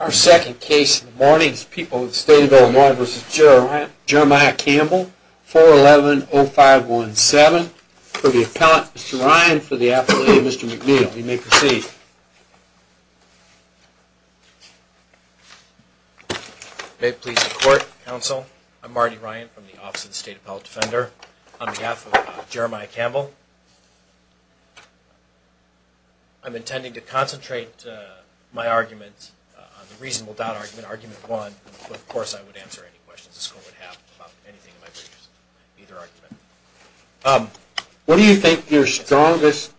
Our second case in the morning is people with the State of Illinois v. Jeremiah Campbell, 411-0517. For the appellant, Mr. Ryan. For the appellant, Mr. McNeil. You may proceed. May it please the court, counsel. I'm Marty Ryan from the Office of the State Appellate Defender. On behalf of Jeremiah Campbell, I'm intending to concentrate my arguments on the reasonable doubt argument, argument one, but of course I would answer any questions this court would have about anything in my briefs, either argument. What do you think your strongest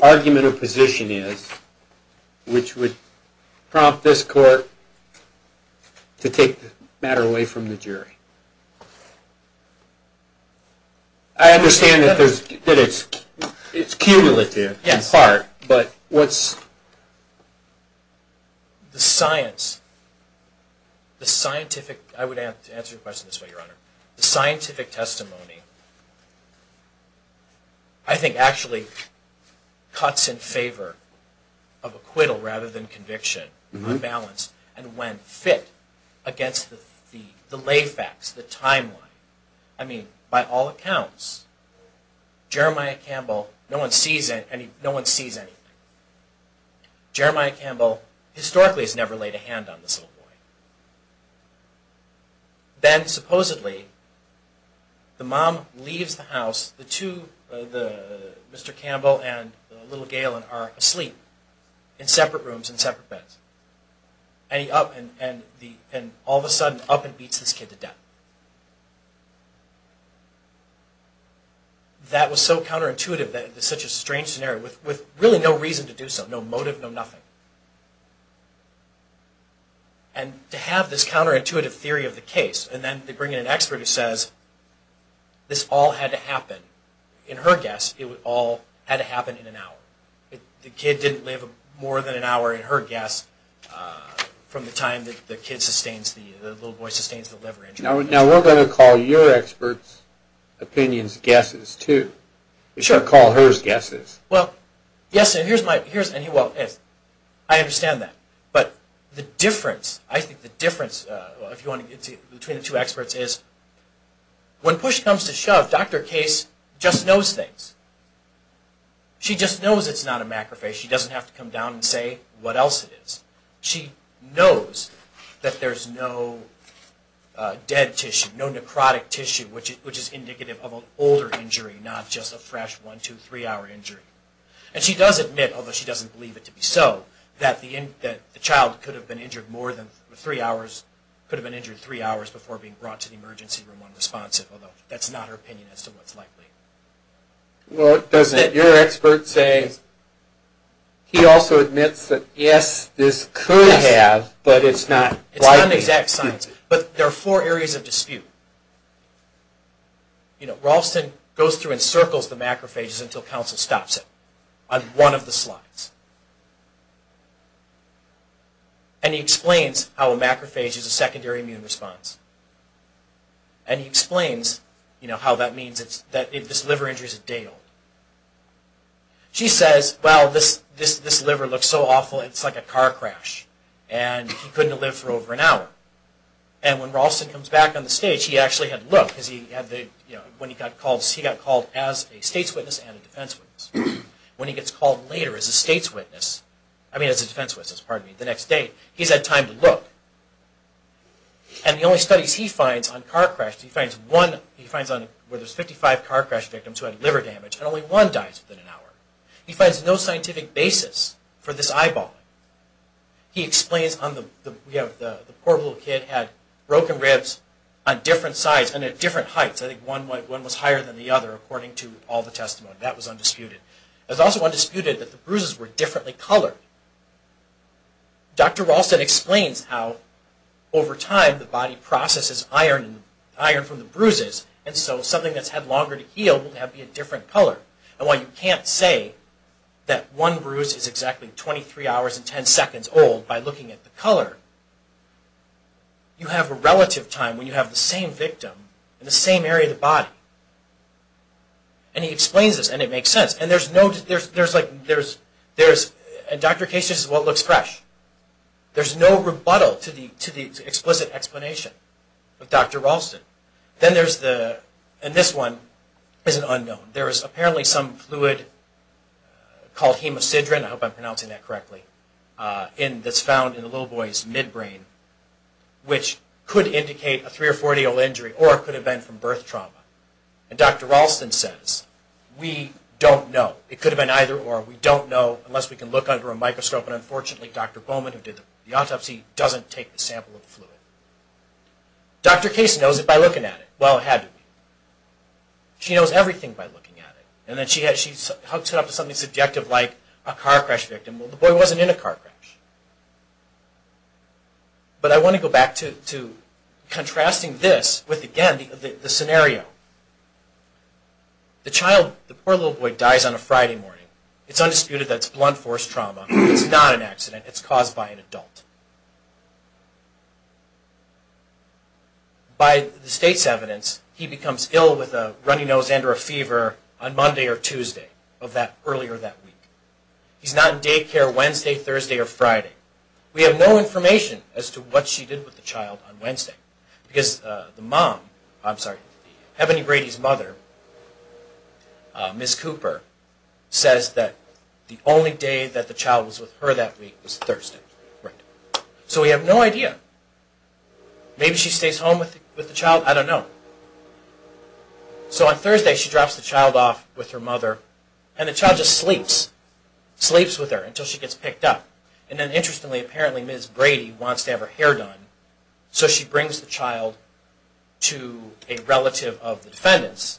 argument or position is which would prompt this court to take the matter away from the jury? I understand that it's cumulative in part, but what's... The science, the scientific... I would answer your question this way, Your Honor. The scientific testimony, I think actually cuts in favor of acquittal rather than conviction, unbalanced, and when fit against the lay facts, the timeline. I mean, by all accounts, Jeremiah Campbell, no one sees anything. Jeremiah Campbell historically has never laid a hand on this little boy. Then supposedly, the mom leaves the house, the two, Mr. Campbell and little Galen are asleep in separate rooms and separate beds. And all of a sudden, up and beats this kid to death. That was so counterintuitive that it's such a strange scenario with really no reason to do so, no motive, no nothing. And to have this counterintuitive theory of the case, and then to bring in an expert who says this all had to happen, in her guess, it all had to happen in an hour. The kid didn't live more than an hour, in her guess, from the time the little boy sustains the liver injury. Now we're going to call your experts' opinions guesses, too. We shouldn't call hers guesses. Well, yes, and here's my, and well, I understand that. But the difference, I think the difference between the two experts is, when push comes to shove, Dr. Case just knows things. She just knows it's not a macrophage. She doesn't have to come down and say what else it is. She knows that there's no dead tissue, no necrotic tissue, which is indicative of an older injury, not just a fresh one, two, three hour injury. And she does admit, although she doesn't believe it to be so, that the child could have been injured more than three hours, could have been injured three hours before being brought to the emergency room unresponsive, although that's not her opinion as to what's likely. Well, doesn't your expert say, he also admits that yes, this could have, but it's not likely. But there are four areas of dispute. You know, Ralston goes through and circles the macrophages until counsel stops him on one of the slides. And he explains how a macrophage is a secondary immune response. And he explains, you know, how that means that this liver injury is a day old. She says, well, this liver looks so awful, it's like a car crash, and he couldn't have lived for over an hour. And when Ralston comes back on the stage, he actually had to look, because he had the, you know, when he got called, he got called as a state's witness and a defense witness. When he gets called later as a state's witness, I mean as a defense witness, pardon me, the next day, he's had time to look. And the only studies he finds on car crashes, he finds one, he finds where there's 55 car crash victims who had liver damage, and only one dies within an hour. He finds no scientific basis for this eyeballing. He explains on the, you know, the poor little kid had broken ribs on different sides and at different heights. I think one was higher than the other, according to all the testimony. That was undisputed. It was also undisputed that the bruises were differently colored. Dr. Ralston explains how, over time, the body processes iron from the bruises, and so something that's had longer to heal will be a different color. And while you can't say that one bruise is exactly 23 hours and 10 seconds old by looking at the color, you have a relative time when you have the same victim in the same area of the body. And he explains this, and it makes sense. And there's no, there's, there's like, there's, there's, in Dr. Case's case, this is what looks fresh. There's no rebuttal to the, to the explicit explanation of Dr. Ralston. Then there's the, and this one is an unknown. There is apparently some fluid called hemocidrine, I hope I'm pronouncing that correctly, in, that's found in the little boy's midbrain, which could indicate a 3 or 40-year-old injury, or it could have been from birth trauma. And Dr. Ralston says, we don't know. It could have been either or. We don't know unless we can look under a microscope, and unfortunately, Dr. Bowman, who did the autopsy, doesn't take the sample of fluid. Dr. Case knows it by looking at it. Well, it had to be. She knows everything by looking at it. And then she had, she hooked it up to something subjective like a car crash victim. Well, the boy wasn't in a car crash. But I want to go back to, to contrasting this with, again, the scenario. The child, the poor little boy, dies on a Friday morning. It's undisputed that it's blunt force trauma. It's not an accident. It's caused by an adult. By the state's evidence, he becomes ill with a runny nose and or a fever on Monday or Tuesday of that, earlier that week. He's not in daycare Wednesday, Thursday, or Friday. We have no information as to what she did with the child on Wednesday. Because the mom, I'm sorry, the Heavenly Grady's mother, Ms. Cooper, says that the only day that the child was with her that week was Thursday. So we have no idea. Maybe she stays home with the child. I don't know. So on Thursday, she drops the child off with her mother. And the child just sleeps, sleeps with her until she gets picked up. And then interestingly, apparently, Ms. Grady wants to have her hair done. So she brings the child to a relative of the defendant's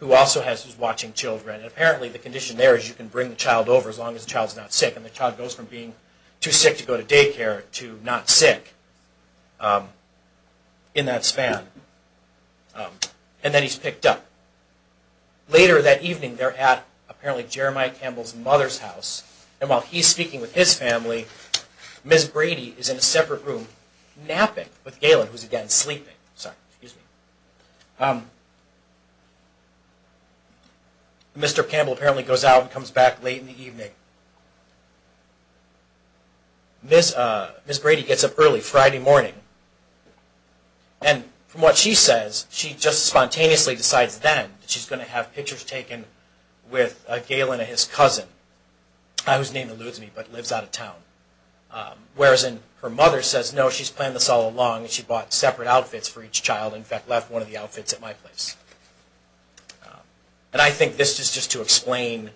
who also has, who's watching children. And apparently, the condition there is you can bring the child over as long as the child's not sick. And the child goes from being too sick to go to daycare to not sick in that span. And then he's picked up. Later that evening, they're at apparently Jeremiah Campbell's mother's house. And while he's speaking with his family, Ms. Grady is in a separate room napping with Galen, who's again sleeping. Sorry, excuse me. Mr. Campbell apparently goes out and comes back late in the evening. Ms. Grady gets up early Friday morning. And from what she says, she just spontaneously decides then that she's going to have pictures taken with Galen and his cousin, whose name eludes me but lives out of town. Whereas her mother says, no, she's planned this all along. She bought separate outfits for each child and, in fact, left one of the outfits at my place. And I think this is just to explain,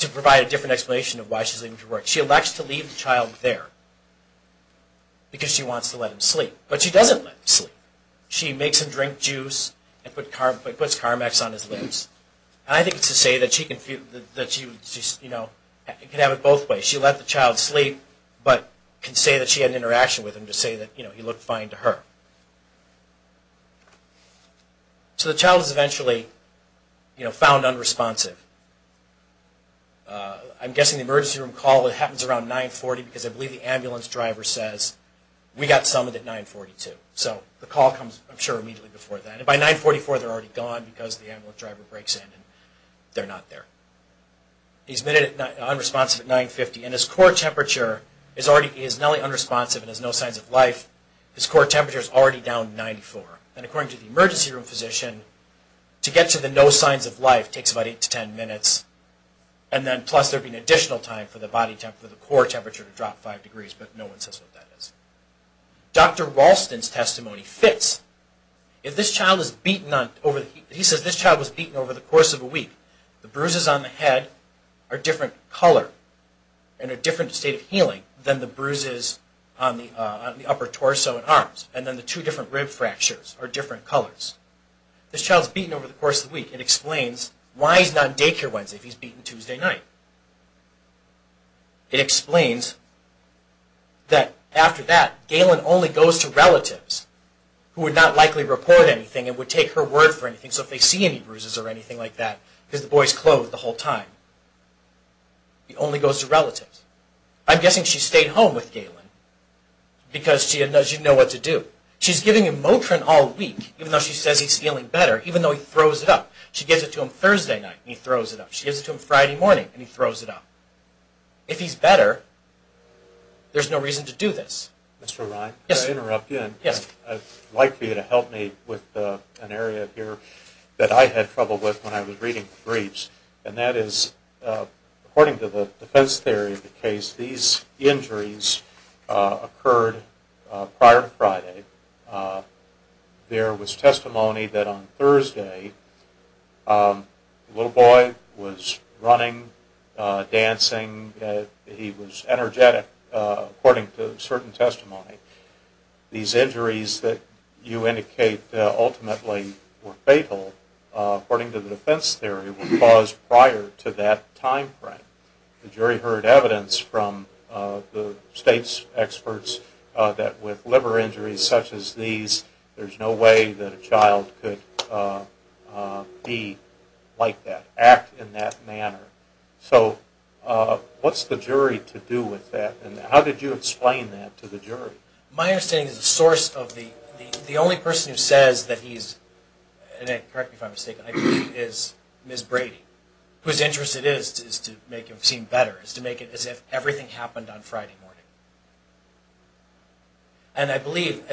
to provide a different explanation of why she's leaving to work. She elects to leave the child there because she wants to let him sleep. But she doesn't let him sleep. She makes him drink juice and puts Carmex on his lips. And I think it's to say that she can have it both ways. She let the child sleep but can say that she had an interaction with him to say that he looked fine to her. So the child is eventually found unresponsive. I'm guessing the emergency room call happens around 9.40 because I believe the ambulance driver says, we got someone at 9.42. So the call comes, I'm sure, immediately before that. And by 9.44 they're already gone because the ambulance driver breaks in and they're not there. He's made it unresponsive at 9.50. And his core temperature is already unresponsive and has no signs of life. His core temperature is already down 94. And according to the emergency room physician, to get to the no signs of life takes about 8 to 10 minutes. And then plus there would be an additional time for the core temperature to drop 5 degrees. But no one says what that is. Dr. Ralston's testimony fits. He says this child was beaten over the course of a week. The bruises on the head are a different color and a different state of healing than the bruises on the upper torso and arms. And then the two different rib fractures are different colors. This child's beaten over the course of the week. It explains why he's not in daycare Wednesday if he's beaten Tuesday night. It explains that after that Galen only goes to relatives who would not likely report anything and would take her word for anything. So if they see any bruises or anything like that, because the boy's clothed the whole time, he only goes to relatives. I'm guessing she stayed home with Galen because she didn't know what to do. She's giving him Motrin all week even though she says he's feeling better, even though he throws it up. She gives it to him Thursday night and he throws it up. She gives it to him Friday morning and he throws it up. If he's better, there's no reason to do this. Mr. O'Reilly? Yes. May I interrupt you? Yes. I'd like you to help me with an area here that I had trouble with when I was reading the briefs, and that is according to the defense theory of the case, these injuries occurred prior to Friday. There was testimony that on Thursday the little boy was running, dancing. He was energetic, according to certain testimony. These injuries that you indicate ultimately were fatal, according to the defense theory, were caused prior to that time frame. The jury heard evidence from the state's experts that with liver injuries such as these, there's no way that a child could be like that, act in that manner. So what's the jury to do with that and how did you explain that to the jury? My understanding is the source of the, the only person who says that he's, and correct me if I'm mistaken, I believe is Ms. Brady, whose interest it is to make him seem better, is to make it as if everything happened on Friday morning. And I believe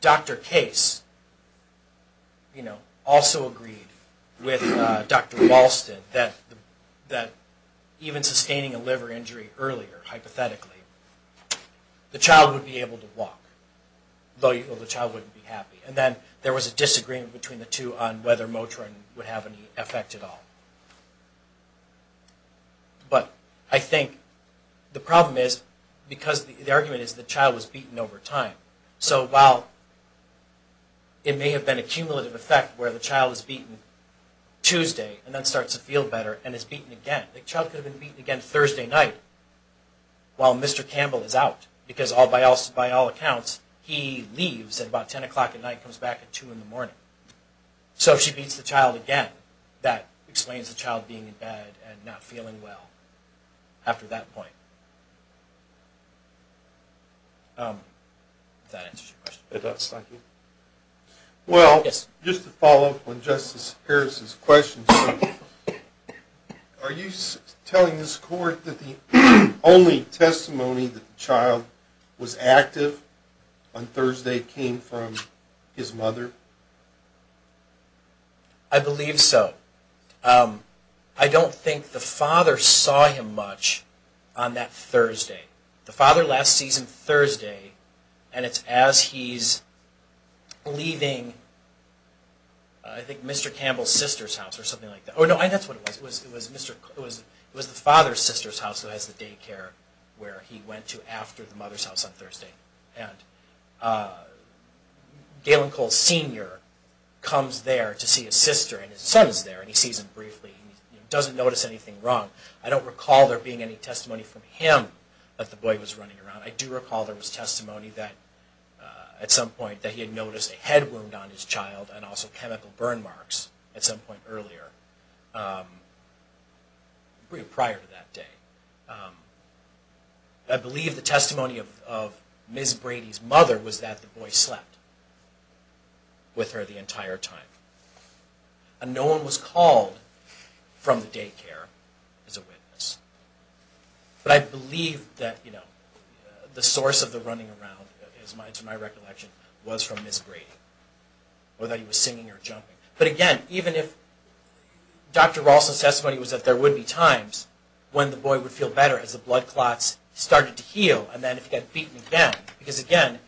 Dr. Case, you know, also agreed with Dr. Walsted that even sustaining a liver injury earlier, hypothetically, the child would be able to walk, though the child wouldn't be happy. And then there was a disagreement between the two on whether Motrin would have any effect at all. But I think the problem is, because the argument is the child was beaten over time. So while it may have been a cumulative effect where the child is beaten Tuesday and then starts to feel better, and is beaten again, the child could have been beaten again Thursday night while Mr. Campbell is out, because by all accounts, he leaves at about 10 o'clock at night and comes back at 2 in the morning. So if she beats the child again, that explains the child being in bed and not feeling well after that point. Does that answer your question? It does, thank you. Well, just to follow up on Justice Harris's question, are you telling this Court that the only testimony that the child was active on Thursday came from his mother? I believe so. I don't think the father saw him much on that Thursday. The father last sees him Thursday, and it's as he's leaving, I think, Mr. Campbell's sister's house or something like that. Oh, no, that's what it was. It was the father's sister's house that has the daycare where he went to after the mother's house on Thursday. And Galen Cole Sr. comes there to see his sister, and his son is there, and he sees him briefly. He doesn't notice anything wrong. I don't recall there being any testimony from him that the boy was running around. I do recall there was testimony that at some point that he had noticed a head wound on his child and also chemical burn marks at some point earlier, prior to that day. I believe the testimony of Ms. Brady's mother was that the boy slept with her the entire time. And no one was called from the daycare as a witness. But I believe that the source of the running around, to my recollection, was from Ms. Brady, or that he was singing or jumping. But again, even if Dr. Ralston's testimony was that there would be times when the boy would feel better as the blood clots started to heal and then if he got beaten again, because again,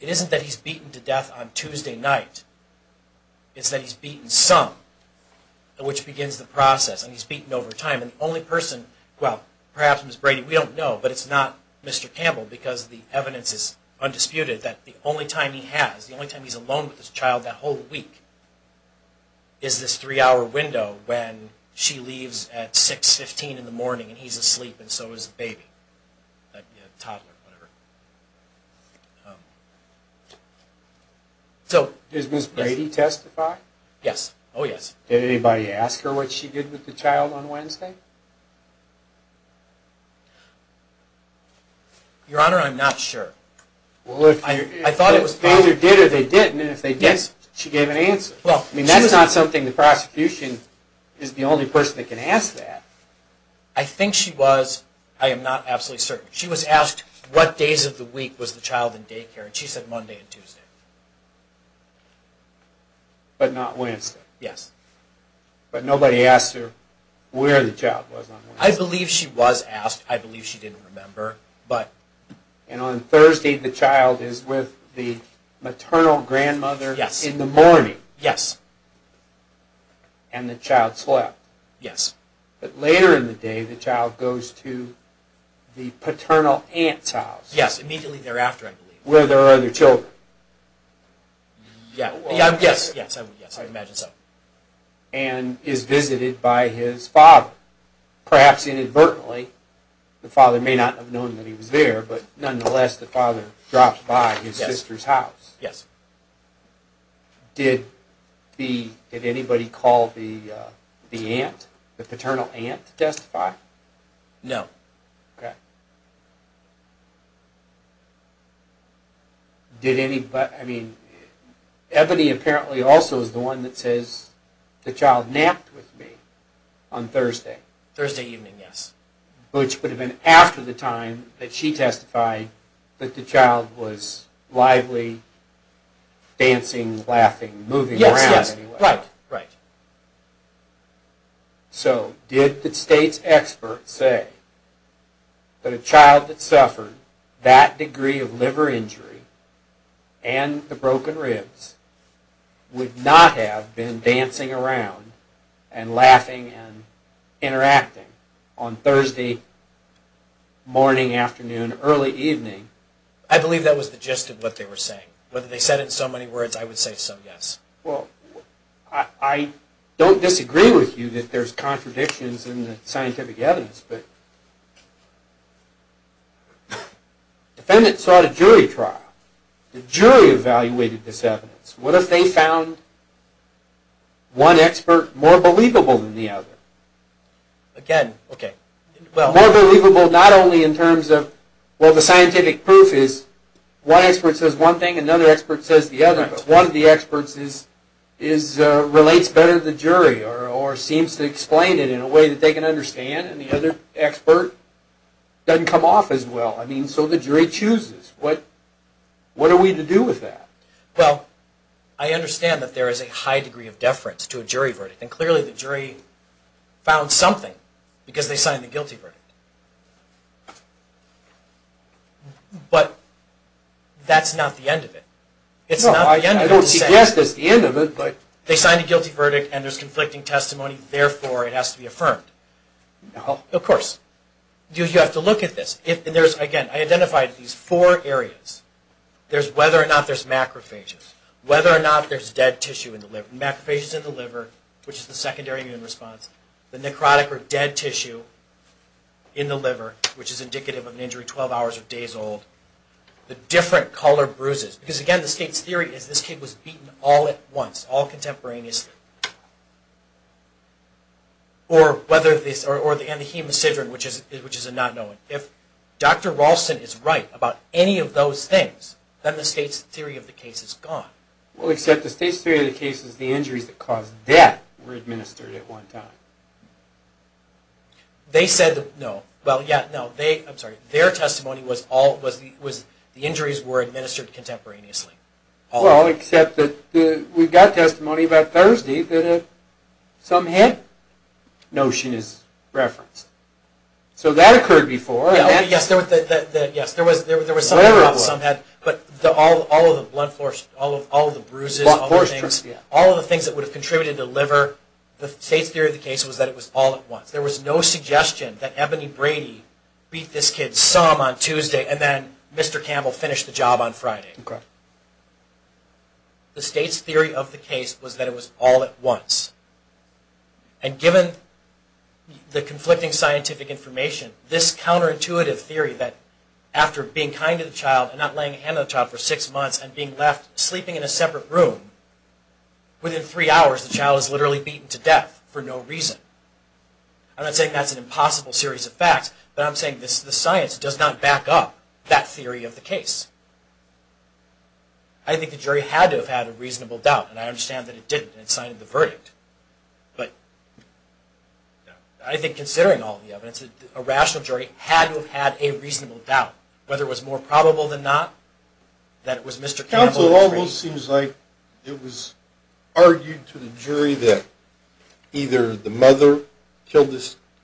it isn't that he's beaten to death on Tuesday night. It's that he's beaten some, which begins the process, and he's beaten over time. And the only person, well, perhaps Ms. Brady, we don't know, but it's not Mr. Campbell, because the evidence is undisputed that the only time he has, the only time he's alone with his child that whole week, is this three-hour window when she leaves at 6.15 in the morning and he's asleep, and so is the baby, the toddler, whatever. Does Ms. Brady testify? Yes. Oh, yes. Did anybody ask her what she did with the child on Wednesday? Your Honor, I'm not sure. I thought it was either they did or they didn't, and if they did, she gave an answer. I mean, that's not something the prosecution is the only person that can ask that. I think she was. I am not absolutely certain. She was asked what days of the week was the child in daycare, and she said Monday and Tuesday. But not Wednesday? Yes. But nobody asked her where the child was on Wednesday? I believe she was asked. I believe she didn't remember. And on Thursday, the child is with the maternal grandmother in the morning? Yes. And the child slept? Yes. But later in the day, the child goes to the paternal aunt's house? Yes, immediately thereafter, I believe. Where there are other children? Yes, I would imagine so. And is visited by his father, perhaps inadvertently. The father may not have known that he was there, but nonetheless, the father drops by his sister's house. Yes. Did anybody call the paternal aunt to testify? No. Okay. Ebony apparently also is the one that says, the child napped with me on Thursday. Thursday evening, yes. Which would have been after the time that she testified that the child was lively, dancing, laughing, moving around. Yes, yes, right, right. So, did the state's expert say that a child that suffered that degree of liver injury and the broken ribs would not have been dancing around and laughing and interacting on Thursday morning, afternoon, early evening? I believe that was the gist of what they were saying. Whether they said it in so many words, I would say so, yes. Well, I don't disagree with you that there's contradictions in the scientific evidence, but defendants sought a jury trial. The jury evaluated this evidence. What if they found one expert more believable than the other? Again, okay. More believable not only in terms of, well, the scientific proof is one expert says one thing, another expert says the other, but one of the experts relates better to the jury or seems to explain it in a way that they can understand and the other expert doesn't come off as well. I mean, so the jury chooses. What are we to do with that? Well, I understand that there is a high degree of deference to a jury verdict, and clearly the jury found something because they signed the guilty verdict. But that's not the end of it. No, I don't suggest it's the end of it, but... No, of course. You have to look at this. Again, I identified these four areas. There's whether or not there's macrophages, whether or not there's dead tissue in the liver. Macrophages in the liver, which is the secondary immune response, the necrotic or dead tissue in the liver, which is indicative of an injury 12 hours or days old, the different color bruises, because again, the state's theory is this kid was beaten all at once, all contemporaneously, or the hemocydrin, which is a not knowing. If Dr. Ralston is right about any of those things, then the state's theory of the case is gone. Well, except the state's theory of the case is the injuries that caused death were administered at one time. They said no. Well, yeah, no. I'm sorry. Their testimony was the injuries were administered contemporaneously. Well, except that we've got testimony about Thursday that some head notion is referenced. So that occurred before. Yes, there was some head, but all of the bruises, all of the things that would have contributed to liver, the state's theory of the case was that it was all at once. There was no suggestion that Ebony Brady beat this kid some on Tuesday and then Mr. Campbell finished the job on Friday. The state's theory of the case was that it was all at once. And given the conflicting scientific information, this counterintuitive theory that after being kind to the child and not laying a hand on the child for six months and being left sleeping in a separate room, within three hours the child is literally beaten to death for no reason. I'm not saying that's an impossible series of facts, but I'm saying the science does not back up that theory of the case. I think the jury had to have had a reasonable doubt, and I understand that it didn't, and it signed the verdict. But I think considering all the evidence, a rational jury had to have had a reasonable doubt, whether it was more probable than not that it was Mr. Campbell. So it almost seems like it was argued to the jury that either the mother killed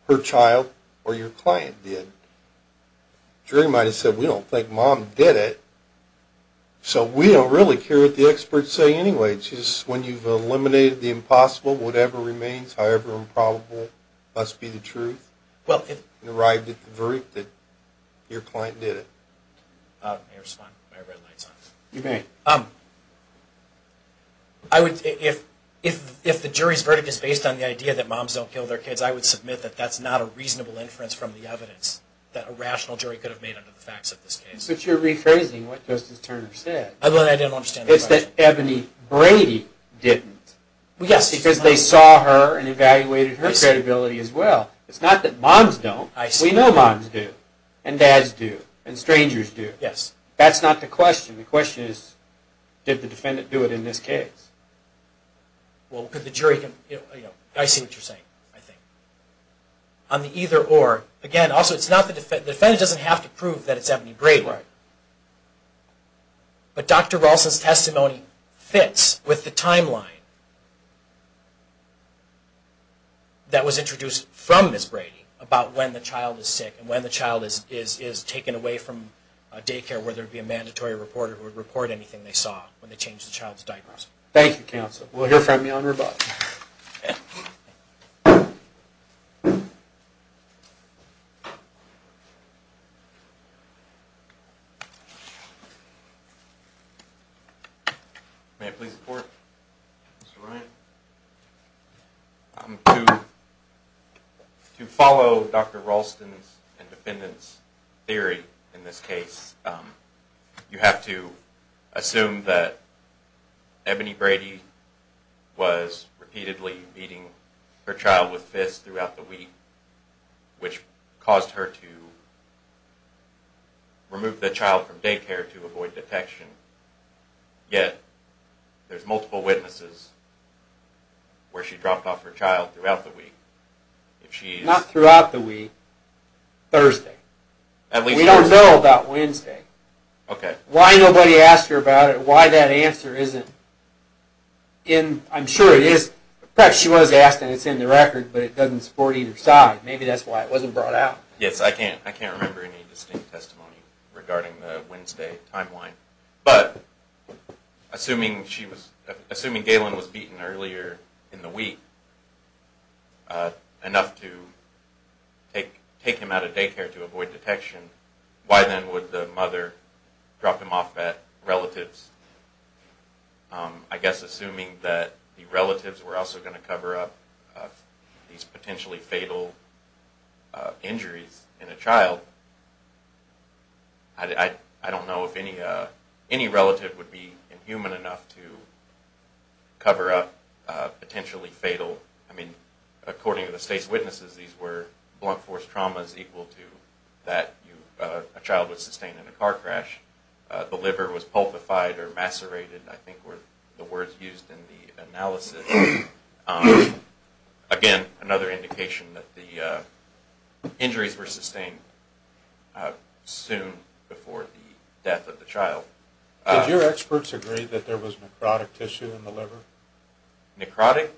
her child or your client did. The jury might have said, we don't think Mom did it. So we don't really care what the experts say anyway. It's just when you've eliminated the impossible, whatever remains, however improbable, must be the truth, and arrived at the verdict that your client did it. If the jury's verdict is based on the idea that moms don't kill their kids, I would submit that that's not a reasonable inference from the evidence that a rational jury could have made under the facts of this case. But you're rephrasing what Justice Turner said. I didn't understand the question. It's that Ebony Brady didn't, because they saw her and evaluated her credibility as well. It's not that moms don't. We know moms do. And dads do. And strangers do. Yes. That's not the question. The question is, did the defendant do it in this case? Well, could the jury, you know, I see what you're saying, I think. On the either or, again, also it's not the defendant. The defendant doesn't have to prove that it's Ebony Brady. Right. But Dr. Ralston's testimony fits with the timeline that was introduced from Ms. Brady about when the child is sick and when the child is taken away from daycare where there would be a mandatory reporter who would report anything they saw when they changed the child's diapers. Thank you, counsel. We'll hear from you on rebuttal. May I please report? Mr. Ryan? To follow Dr. Ralston's and defendant's theory in this case, you have to assume that Ebony Brady was repeatedly beating her child with fists throughout the week, which caused her to remove the child from daycare to avoid detection. Yet, there's multiple witnesses where she dropped off her child throughout the week. Not throughout the week, Thursday. We don't know about Wednesday. Why nobody asked her about it, why that answer isn't in, I'm sure it is, perhaps she was asked and it's in the record, but it doesn't support either side. Maybe that's why it wasn't brought out. Yes, I can't remember any distinct testimony regarding the Wednesday timeline. But assuming Galen was beaten earlier in the week enough to take him out of daycare to avoid detection, why then would the mother drop him off at relatives? I guess assuming that the relatives were also going to cover up these potentially fatal injuries in a child, I don't know if any relative would be inhuman enough to cover up potentially fatal, I mean, according to the state's witnesses, these were blunt force traumas equal to that a child would sustain in a car crash. The liver was pulpified or macerated, I think were the words used in the analysis. Again, another indication that the injuries were sustained soon before the death of the child. Did your experts agree that there was necrotic tissue in the liver? Necrotic?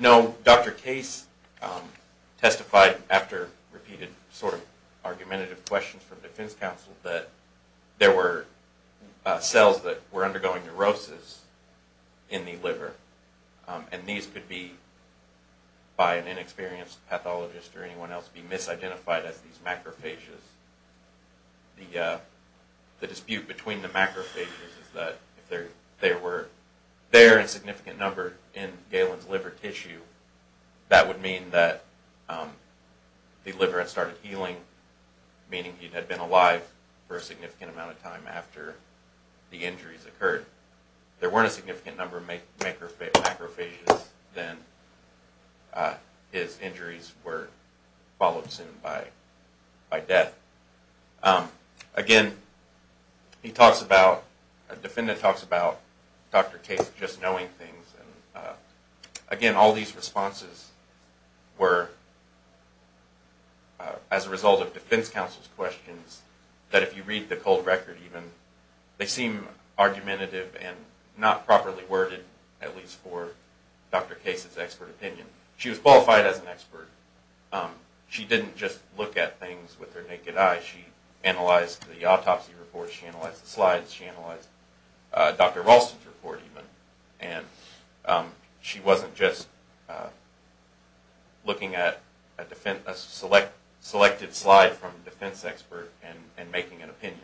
No, Dr. Case testified after repeated sort of argumentative questions from defense counsel that there were cells that were undergoing neurosis in the liver. And these could be, by an inexperienced pathologist or anyone else, be misidentified as these macrophages. The dispute between the macrophages is that if there were their insignificant number in Galen's liver tissue, that would mean that the liver had started healing, meaning he had been alive for a significant amount of time after the injuries occurred. There weren't a significant number of macrophages, then his injuries were followed soon by death. Again, he talks about, the defendant talks about Dr. Case just knowing things. Again, all these responses were as a result of defense counsel's questions, that if you read the cold record even, they seem argumentative and not properly worded, at least for Dr. Case's expert opinion. She was qualified as an expert. She didn't just look at things with her naked eye. She analyzed the autopsy reports, she analyzed the slides, she analyzed Dr. Ralston's report even. She wasn't just looking at a selected slide from a defense expert and making an opinion.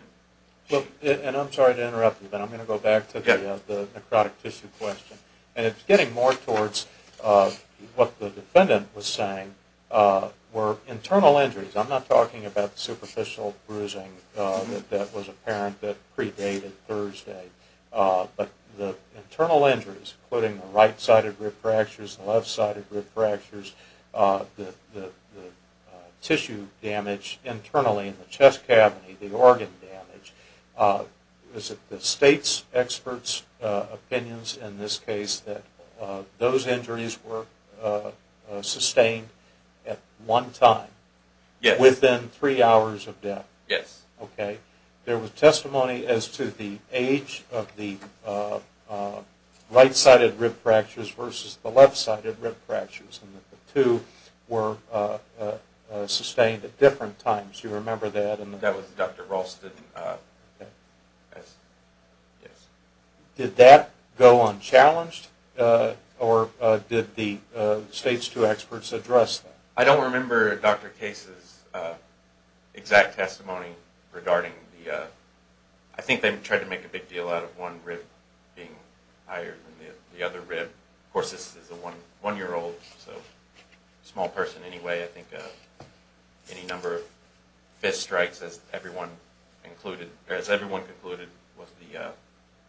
And I'm sorry to interrupt you, but I'm going to go back to the necrotic tissue question. And it's getting more towards what the defendant was saying were internal injuries. I'm not talking about superficial bruising that was apparent that predated Thursday. But the internal injuries, including the right-sided rib fractures, the left-sided rib fractures, the tissue damage internally in the chest cavity, the organ damage, is it the state's expert's opinions in this case that those injuries were sustained at one time? Yes. Within three hours of death? Yes. Okay. There was testimony as to the age of the right-sided rib fractures versus the left-sided rib fractures, and that the two were sustained at different times. Do you remember that? That was Dr. Ralston, yes. Did that go unchallenged, or did the state's two experts address that? I don't remember Dr. Case's exact testimony regarding the – I think they tried to make a big deal out of one rib being higher than the other rib. Of course, this is a one-year-old, so a small person anyway. I think any number of fist strikes, as everyone concluded, was the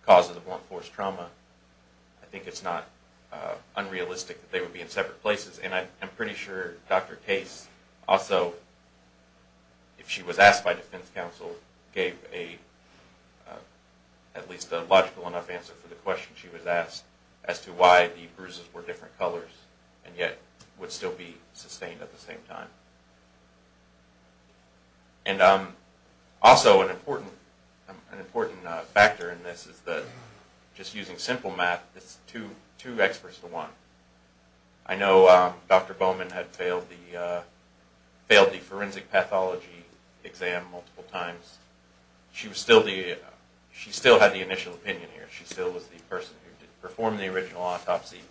cause of the forced trauma. I think it's not unrealistic that they would be in separate places. And I'm pretty sure Dr. Case also, if she was asked by defense counsel, gave at least a logical enough answer for the question she was asked as to why the bruises were different colors and yet would still be sustained at the same time. Also, an important factor in this is that, just using simple math, it's two experts to one. I know Dr. Bowman had failed the forensic pathology exam multiple times. She still had the initial opinion here. She still was the person who performed the original autopsy.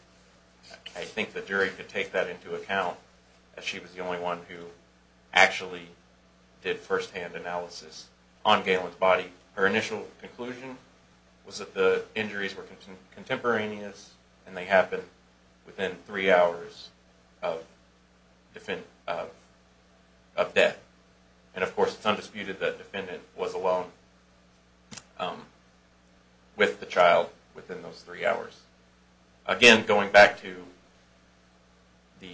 I think the jury could take that into account, as she was the only one who actually did firsthand analysis on Galen's body. Her initial conclusion was that the injuries were contemporaneous and they happened within three hours of death. And of course, it's undisputed that the defendant was alone with the child within those three hours. Again, going back to the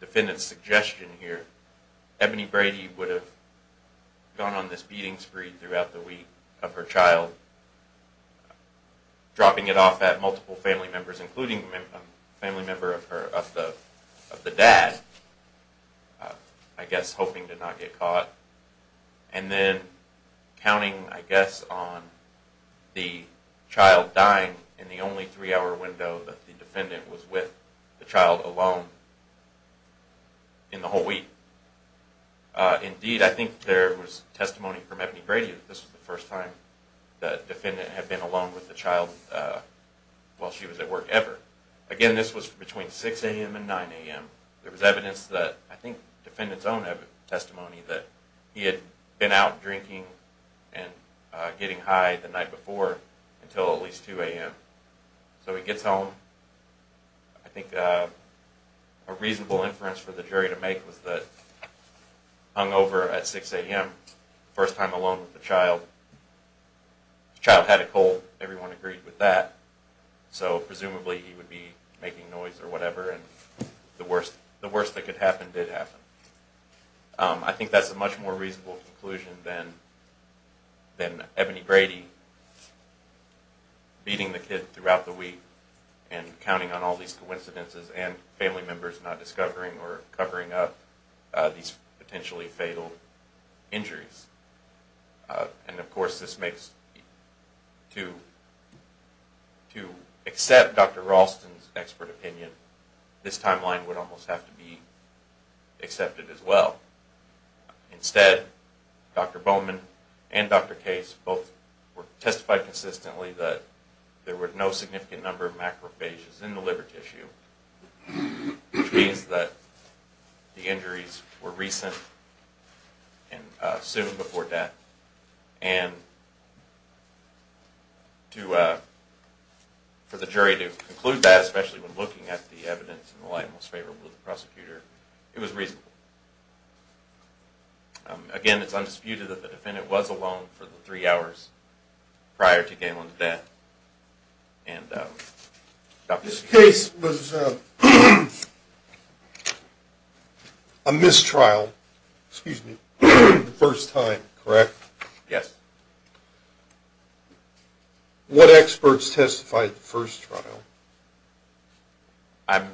defendant's suggestion here, Ebony Brady would have gone on this beating spree throughout the week of her child, dropping it off at multiple family members, including a family member of the dad, I guess hoping to not get caught, and then counting, I guess, on the child dying in the only three-hour window that the defendant was with the child alone in the whole week. Indeed, I think there was testimony from Ebony Brady that this was the first time the defendant had been alone with the child while she was at work ever. Again, this was between 6 a.m. and 9 a.m. There was evidence that, I think the defendant's own testimony, that he had been out drinking and getting high the night before until at least 2 a.m. So he gets home. I think a reasonable inference for the jury to make was that hungover at 6 a.m., first time alone with the child, the child had a cold. Everyone agreed with that. So presumably he would be making noise or whatever, and the worst that could happen did happen. I think that's a much more reasonable conclusion than Ebony Brady beating the kid throughout the week and counting on all these coincidences and family members not discovering or covering up these potentially fatal injuries. And, of course, to accept Dr. Ralston's expert opinion, this timeline would almost have to be accepted as well. Instead, Dr. Bowman and Dr. Case both testified consistently that there were no significant number of macrophages in the liver tissue, which means that the injuries were recent and soon before death. And for the jury to conclude that, especially when looking at the evidence in the light most favorable to the prosecutor, it was reasonable. Again, it's undisputed that the defendant was alone for the three hours prior to Galen's death. This case was a mistrial the first time, correct? Yes. What experts testified the first trial? I'm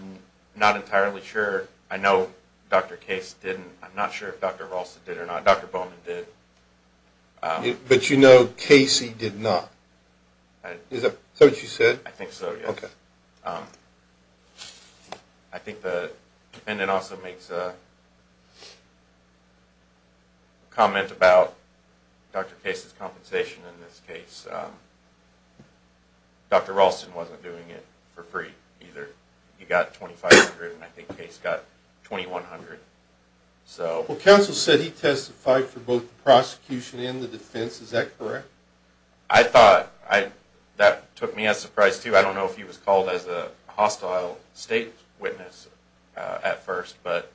not entirely sure. I know Dr. Case didn't. I'm not sure if Dr. Ralston did or not. Dr. Bowman did. But you know Casey did not. Is that what you said? I think so, yes. Okay. I think the defendant also makes a comment about Dr. Case's compensation in this case. Dr. Ralston wasn't doing it for free either. He got $2,500 and I think Case got $2,100. Well, counsel said he testified for both the prosecution and the defense. Is that correct? I thought. That took me as a surprise, too. I don't know if he was called as a hostile state witness at first, but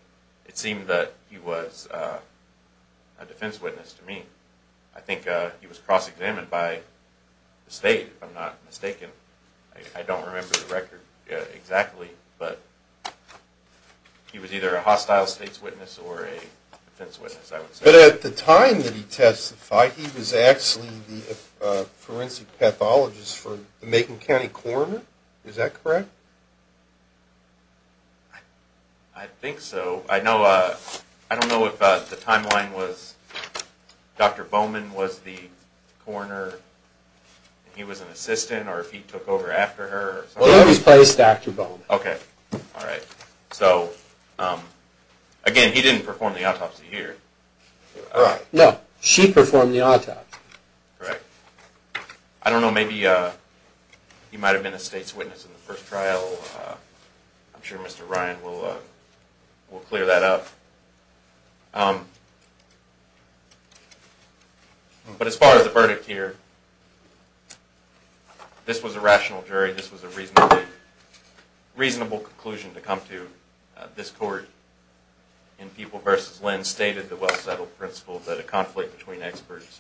it seemed that he was a defense witness to me. I think he was cross-examined by the state, if I'm not mistaken. I don't remember the record exactly, but he was either a hostile state's witness or a defense witness, I would say. But at the time that he testified, he was actually the forensic pathologist for the Macon County Coroner. Is that correct? I think so. I don't know if the timeline was Dr. Bowman was the coroner and he was an assistant or if he took over after her. He always plays Dr. Bowman. Okay. All right. Again, he didn't perform the autopsy here. No, she performed the autopsy. Correct. I don't know. Maybe he might have been a state's witness in the first trial. I'm sure Mr. Ryan will clear that up. But as far as the verdict here, this was a rational jury. This was a reasonable conclusion to come to this court. In People v. Lynn stated the well-settled principle that a conflict between experts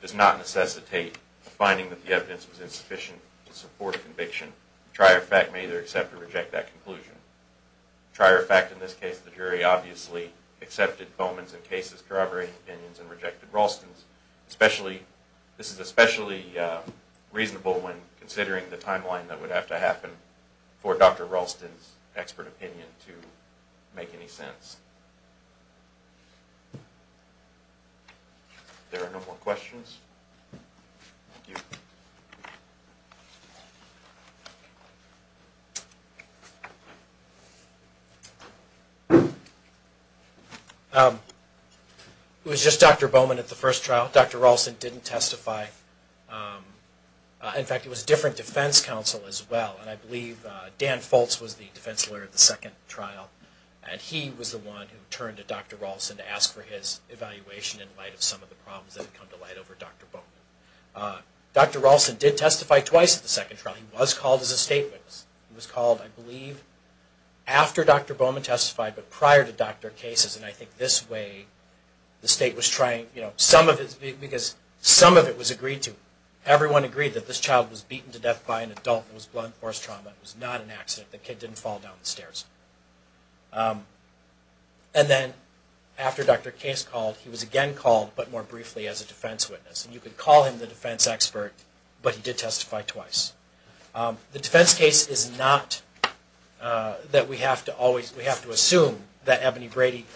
does not necessitate the finding that the evidence was insufficient to support conviction. Trier of fact may either accept or reject that conclusion. Trier of fact in this case, the jury obviously accepted Bowman's and Case's corroborating opinions and rejected Ralston's. This is especially reasonable when considering the timeline that would have to happen for Dr. Ralston's expert opinion to make any sense. If there are no more questions. Thank you. Thank you. It was just Dr. Bowman at the first trial. Dr. Ralston didn't testify. In fact, it was a different defense counsel as well. And I believe Dan Foltz was the defense lawyer at the second trial. And he was the one who turned to Dr. Ralston to ask for his evaluation in light of some of the problems that had come to light over Dr. Bowman. Dr. Ralston did testify twice at the second trial. He was called as a state witness. He was called, I believe, after Dr. Bowman testified, but prior to Dr. Case's. And I think this way the state was trying, because some of it was agreed to. Everyone agreed that this child was beaten to death by an adult. It was blunt force trauma. It was not an accident. The kid didn't fall down the stairs. And then after Dr. Case called, he was again called, but more briefly, as a defense witness. And you could call him the defense expert, but he did testify twice. The defense case is not that we have to assume that Ebony Brady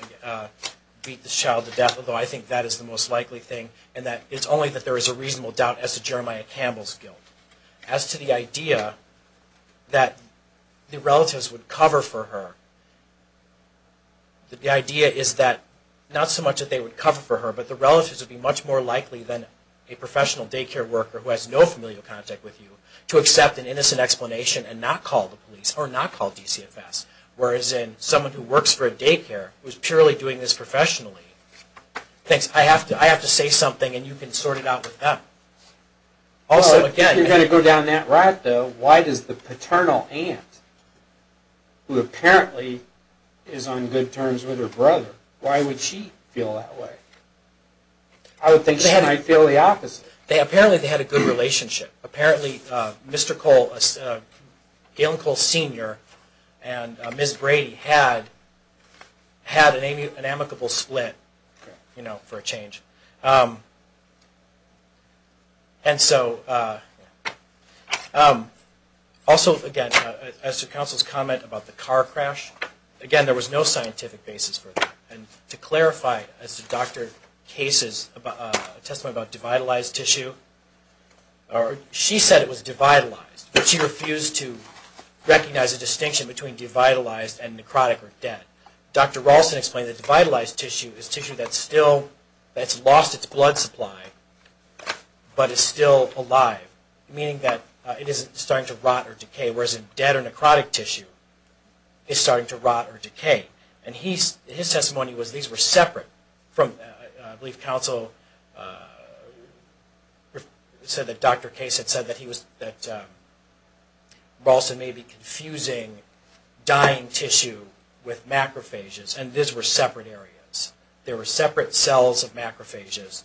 beat this child to death, although I think that is the most likely thing, and that it's only that there is a reasonable doubt as to Jeremiah Campbell's guilt. As to the idea that the relatives would cover for her, the idea is that not so much that they would cover for her, but the relatives would be much more likely than a professional daycare worker who has no familial contact with you to accept an innocent explanation and not call the police, or not call DCFS. Whereas in someone who works for a daycare, who is purely doing this professionally, thinks I have to say something, and you can sort it out with them. Also, again... Well, if you're going to go down that route, though, why does the paternal aunt, who apparently is on good terms with her brother, why would she feel that way? I would think she might feel the opposite. Apparently they had a good relationship. Apparently Mr. Cole, Galen Cole Sr., and Ms. Brady had an amicable split, you know, for a change. Also, again, as to counsel's comment about the car crash, again, there was no scientific basis for that. And to clarify, as to Dr. Case's testimony about divitalized tissue, she said it was divitalized, but she refused to recognize a distinction between divitalized and necrotic or dead. Dr. Ralston explained that divitalized tissue is tissue that's still... that's lost its blood supply, but is still alive, meaning that it isn't starting to rot or decay, whereas dead or necrotic tissue is starting to rot or decay. And his testimony was these were separate. I believe counsel said that Dr. Case had said that Ralston may be confusing dying tissue with macrophages, and these were separate areas. There were separate cells of macrophages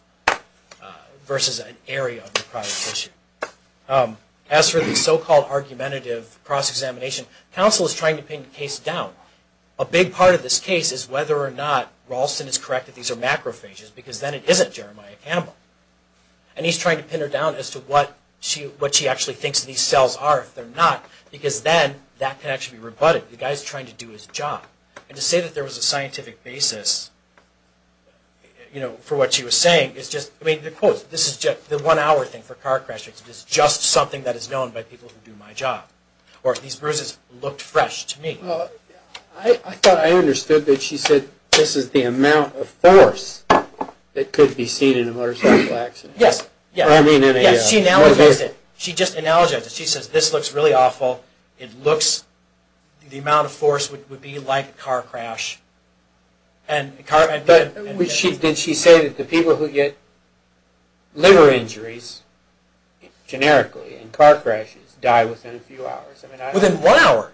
versus an area of necrotic tissue. As for the so-called argumentative cross-examination, counsel is trying to pin the case down. A big part of this case is whether or not Ralston is correct that these are macrophages, because then it isn't Jeremiah Campbell. And he's trying to pin her down as to what she actually thinks these cells are if they're not, because then that can actually be rebutted. The guy's trying to do his job. And to say that there was a scientific basis, you know, for what she was saying, the one-hour thing for car crashes is just something that is known by people who do my job. Or these bruises looked fresh to me. I thought I understood that she said this is the amount of force that could be seen in a motorcycle accident. Yes. She just analogized it. She says this looks really awful. The amount of force would be like a car crash. Did she say that the people who get liver injuries, generically, in car crashes, die within a few hours? Within one hour.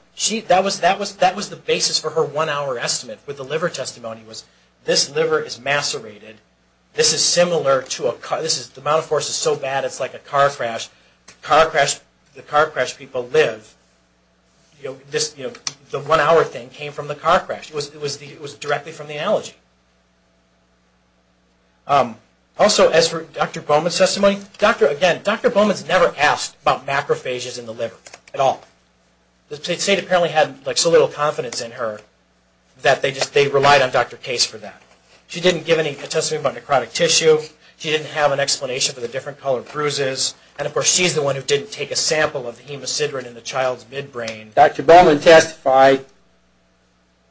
That was the basis for her one-hour estimate with the liver testimony, was this liver is macerated. This is similar to a car. The amount of force is so bad it's like a car crash. The car crash people live. The one-hour thing came from the car crash. It was directly from the allergy. Also, as for Dr. Bowman's testimony, again, Dr. Bowman's never asked about macrophages in the liver at all. The state apparently had so little confidence in her that they relied on Dr. Case for that. She didn't give any testimony about necrotic tissue. She didn't have an explanation for the different color bruises. And, of course, she's the one who didn't take a sample of the hemocidin in the child's midbrain. Dr. Bowman testified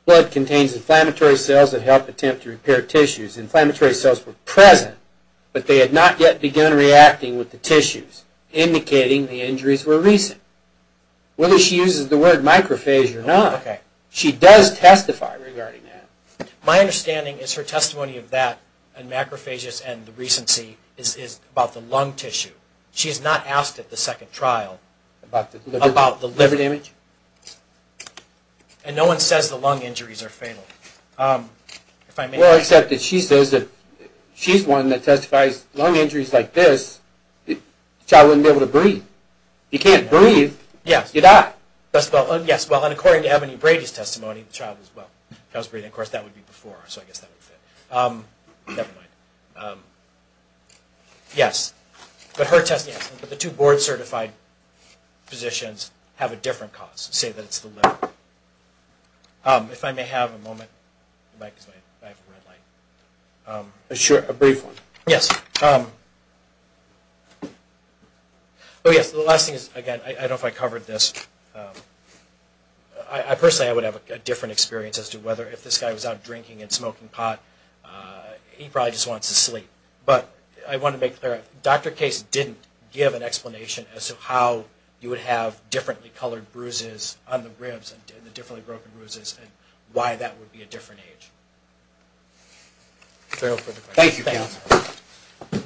blood contains inflammatory cells that help attempt to repair tissues. Inflammatory cells were present, but they had not yet begun reacting with the tissues, indicating the injuries were recent. Whether she uses the word macrophage or not, she does testify regarding that. My understanding is her testimony of that, and macrophages and the recency, is about the lung tissue. She has not asked at the second trial about the liver damage. And no one says the lung injuries are fatal. Well, except that she says that she's the one that testifies lung injuries like this, the child wouldn't be able to breathe. If you can't breathe, you die. Yes, well, and according to Ebony Brady's testimony, the child was breathing. Of course, that would be before, so I guess that would fit. Never mind. Yes, but her testimony, yes, but the two board-certified physicians have a different cause to say that it's the liver. If I may have a moment, the mic is right, I have a red light. Sure, a brief one. Yes. Oh, yes, the last thing is, again, I don't know if I covered this. I personally, I would have a different experience he probably just wants to sleep. But I want to make clear, Dr. Case didn't give an explanation as to how you would have differently colored bruises on the ribs and the differently broken bruises and why that would be a different age. Thank you, counsel.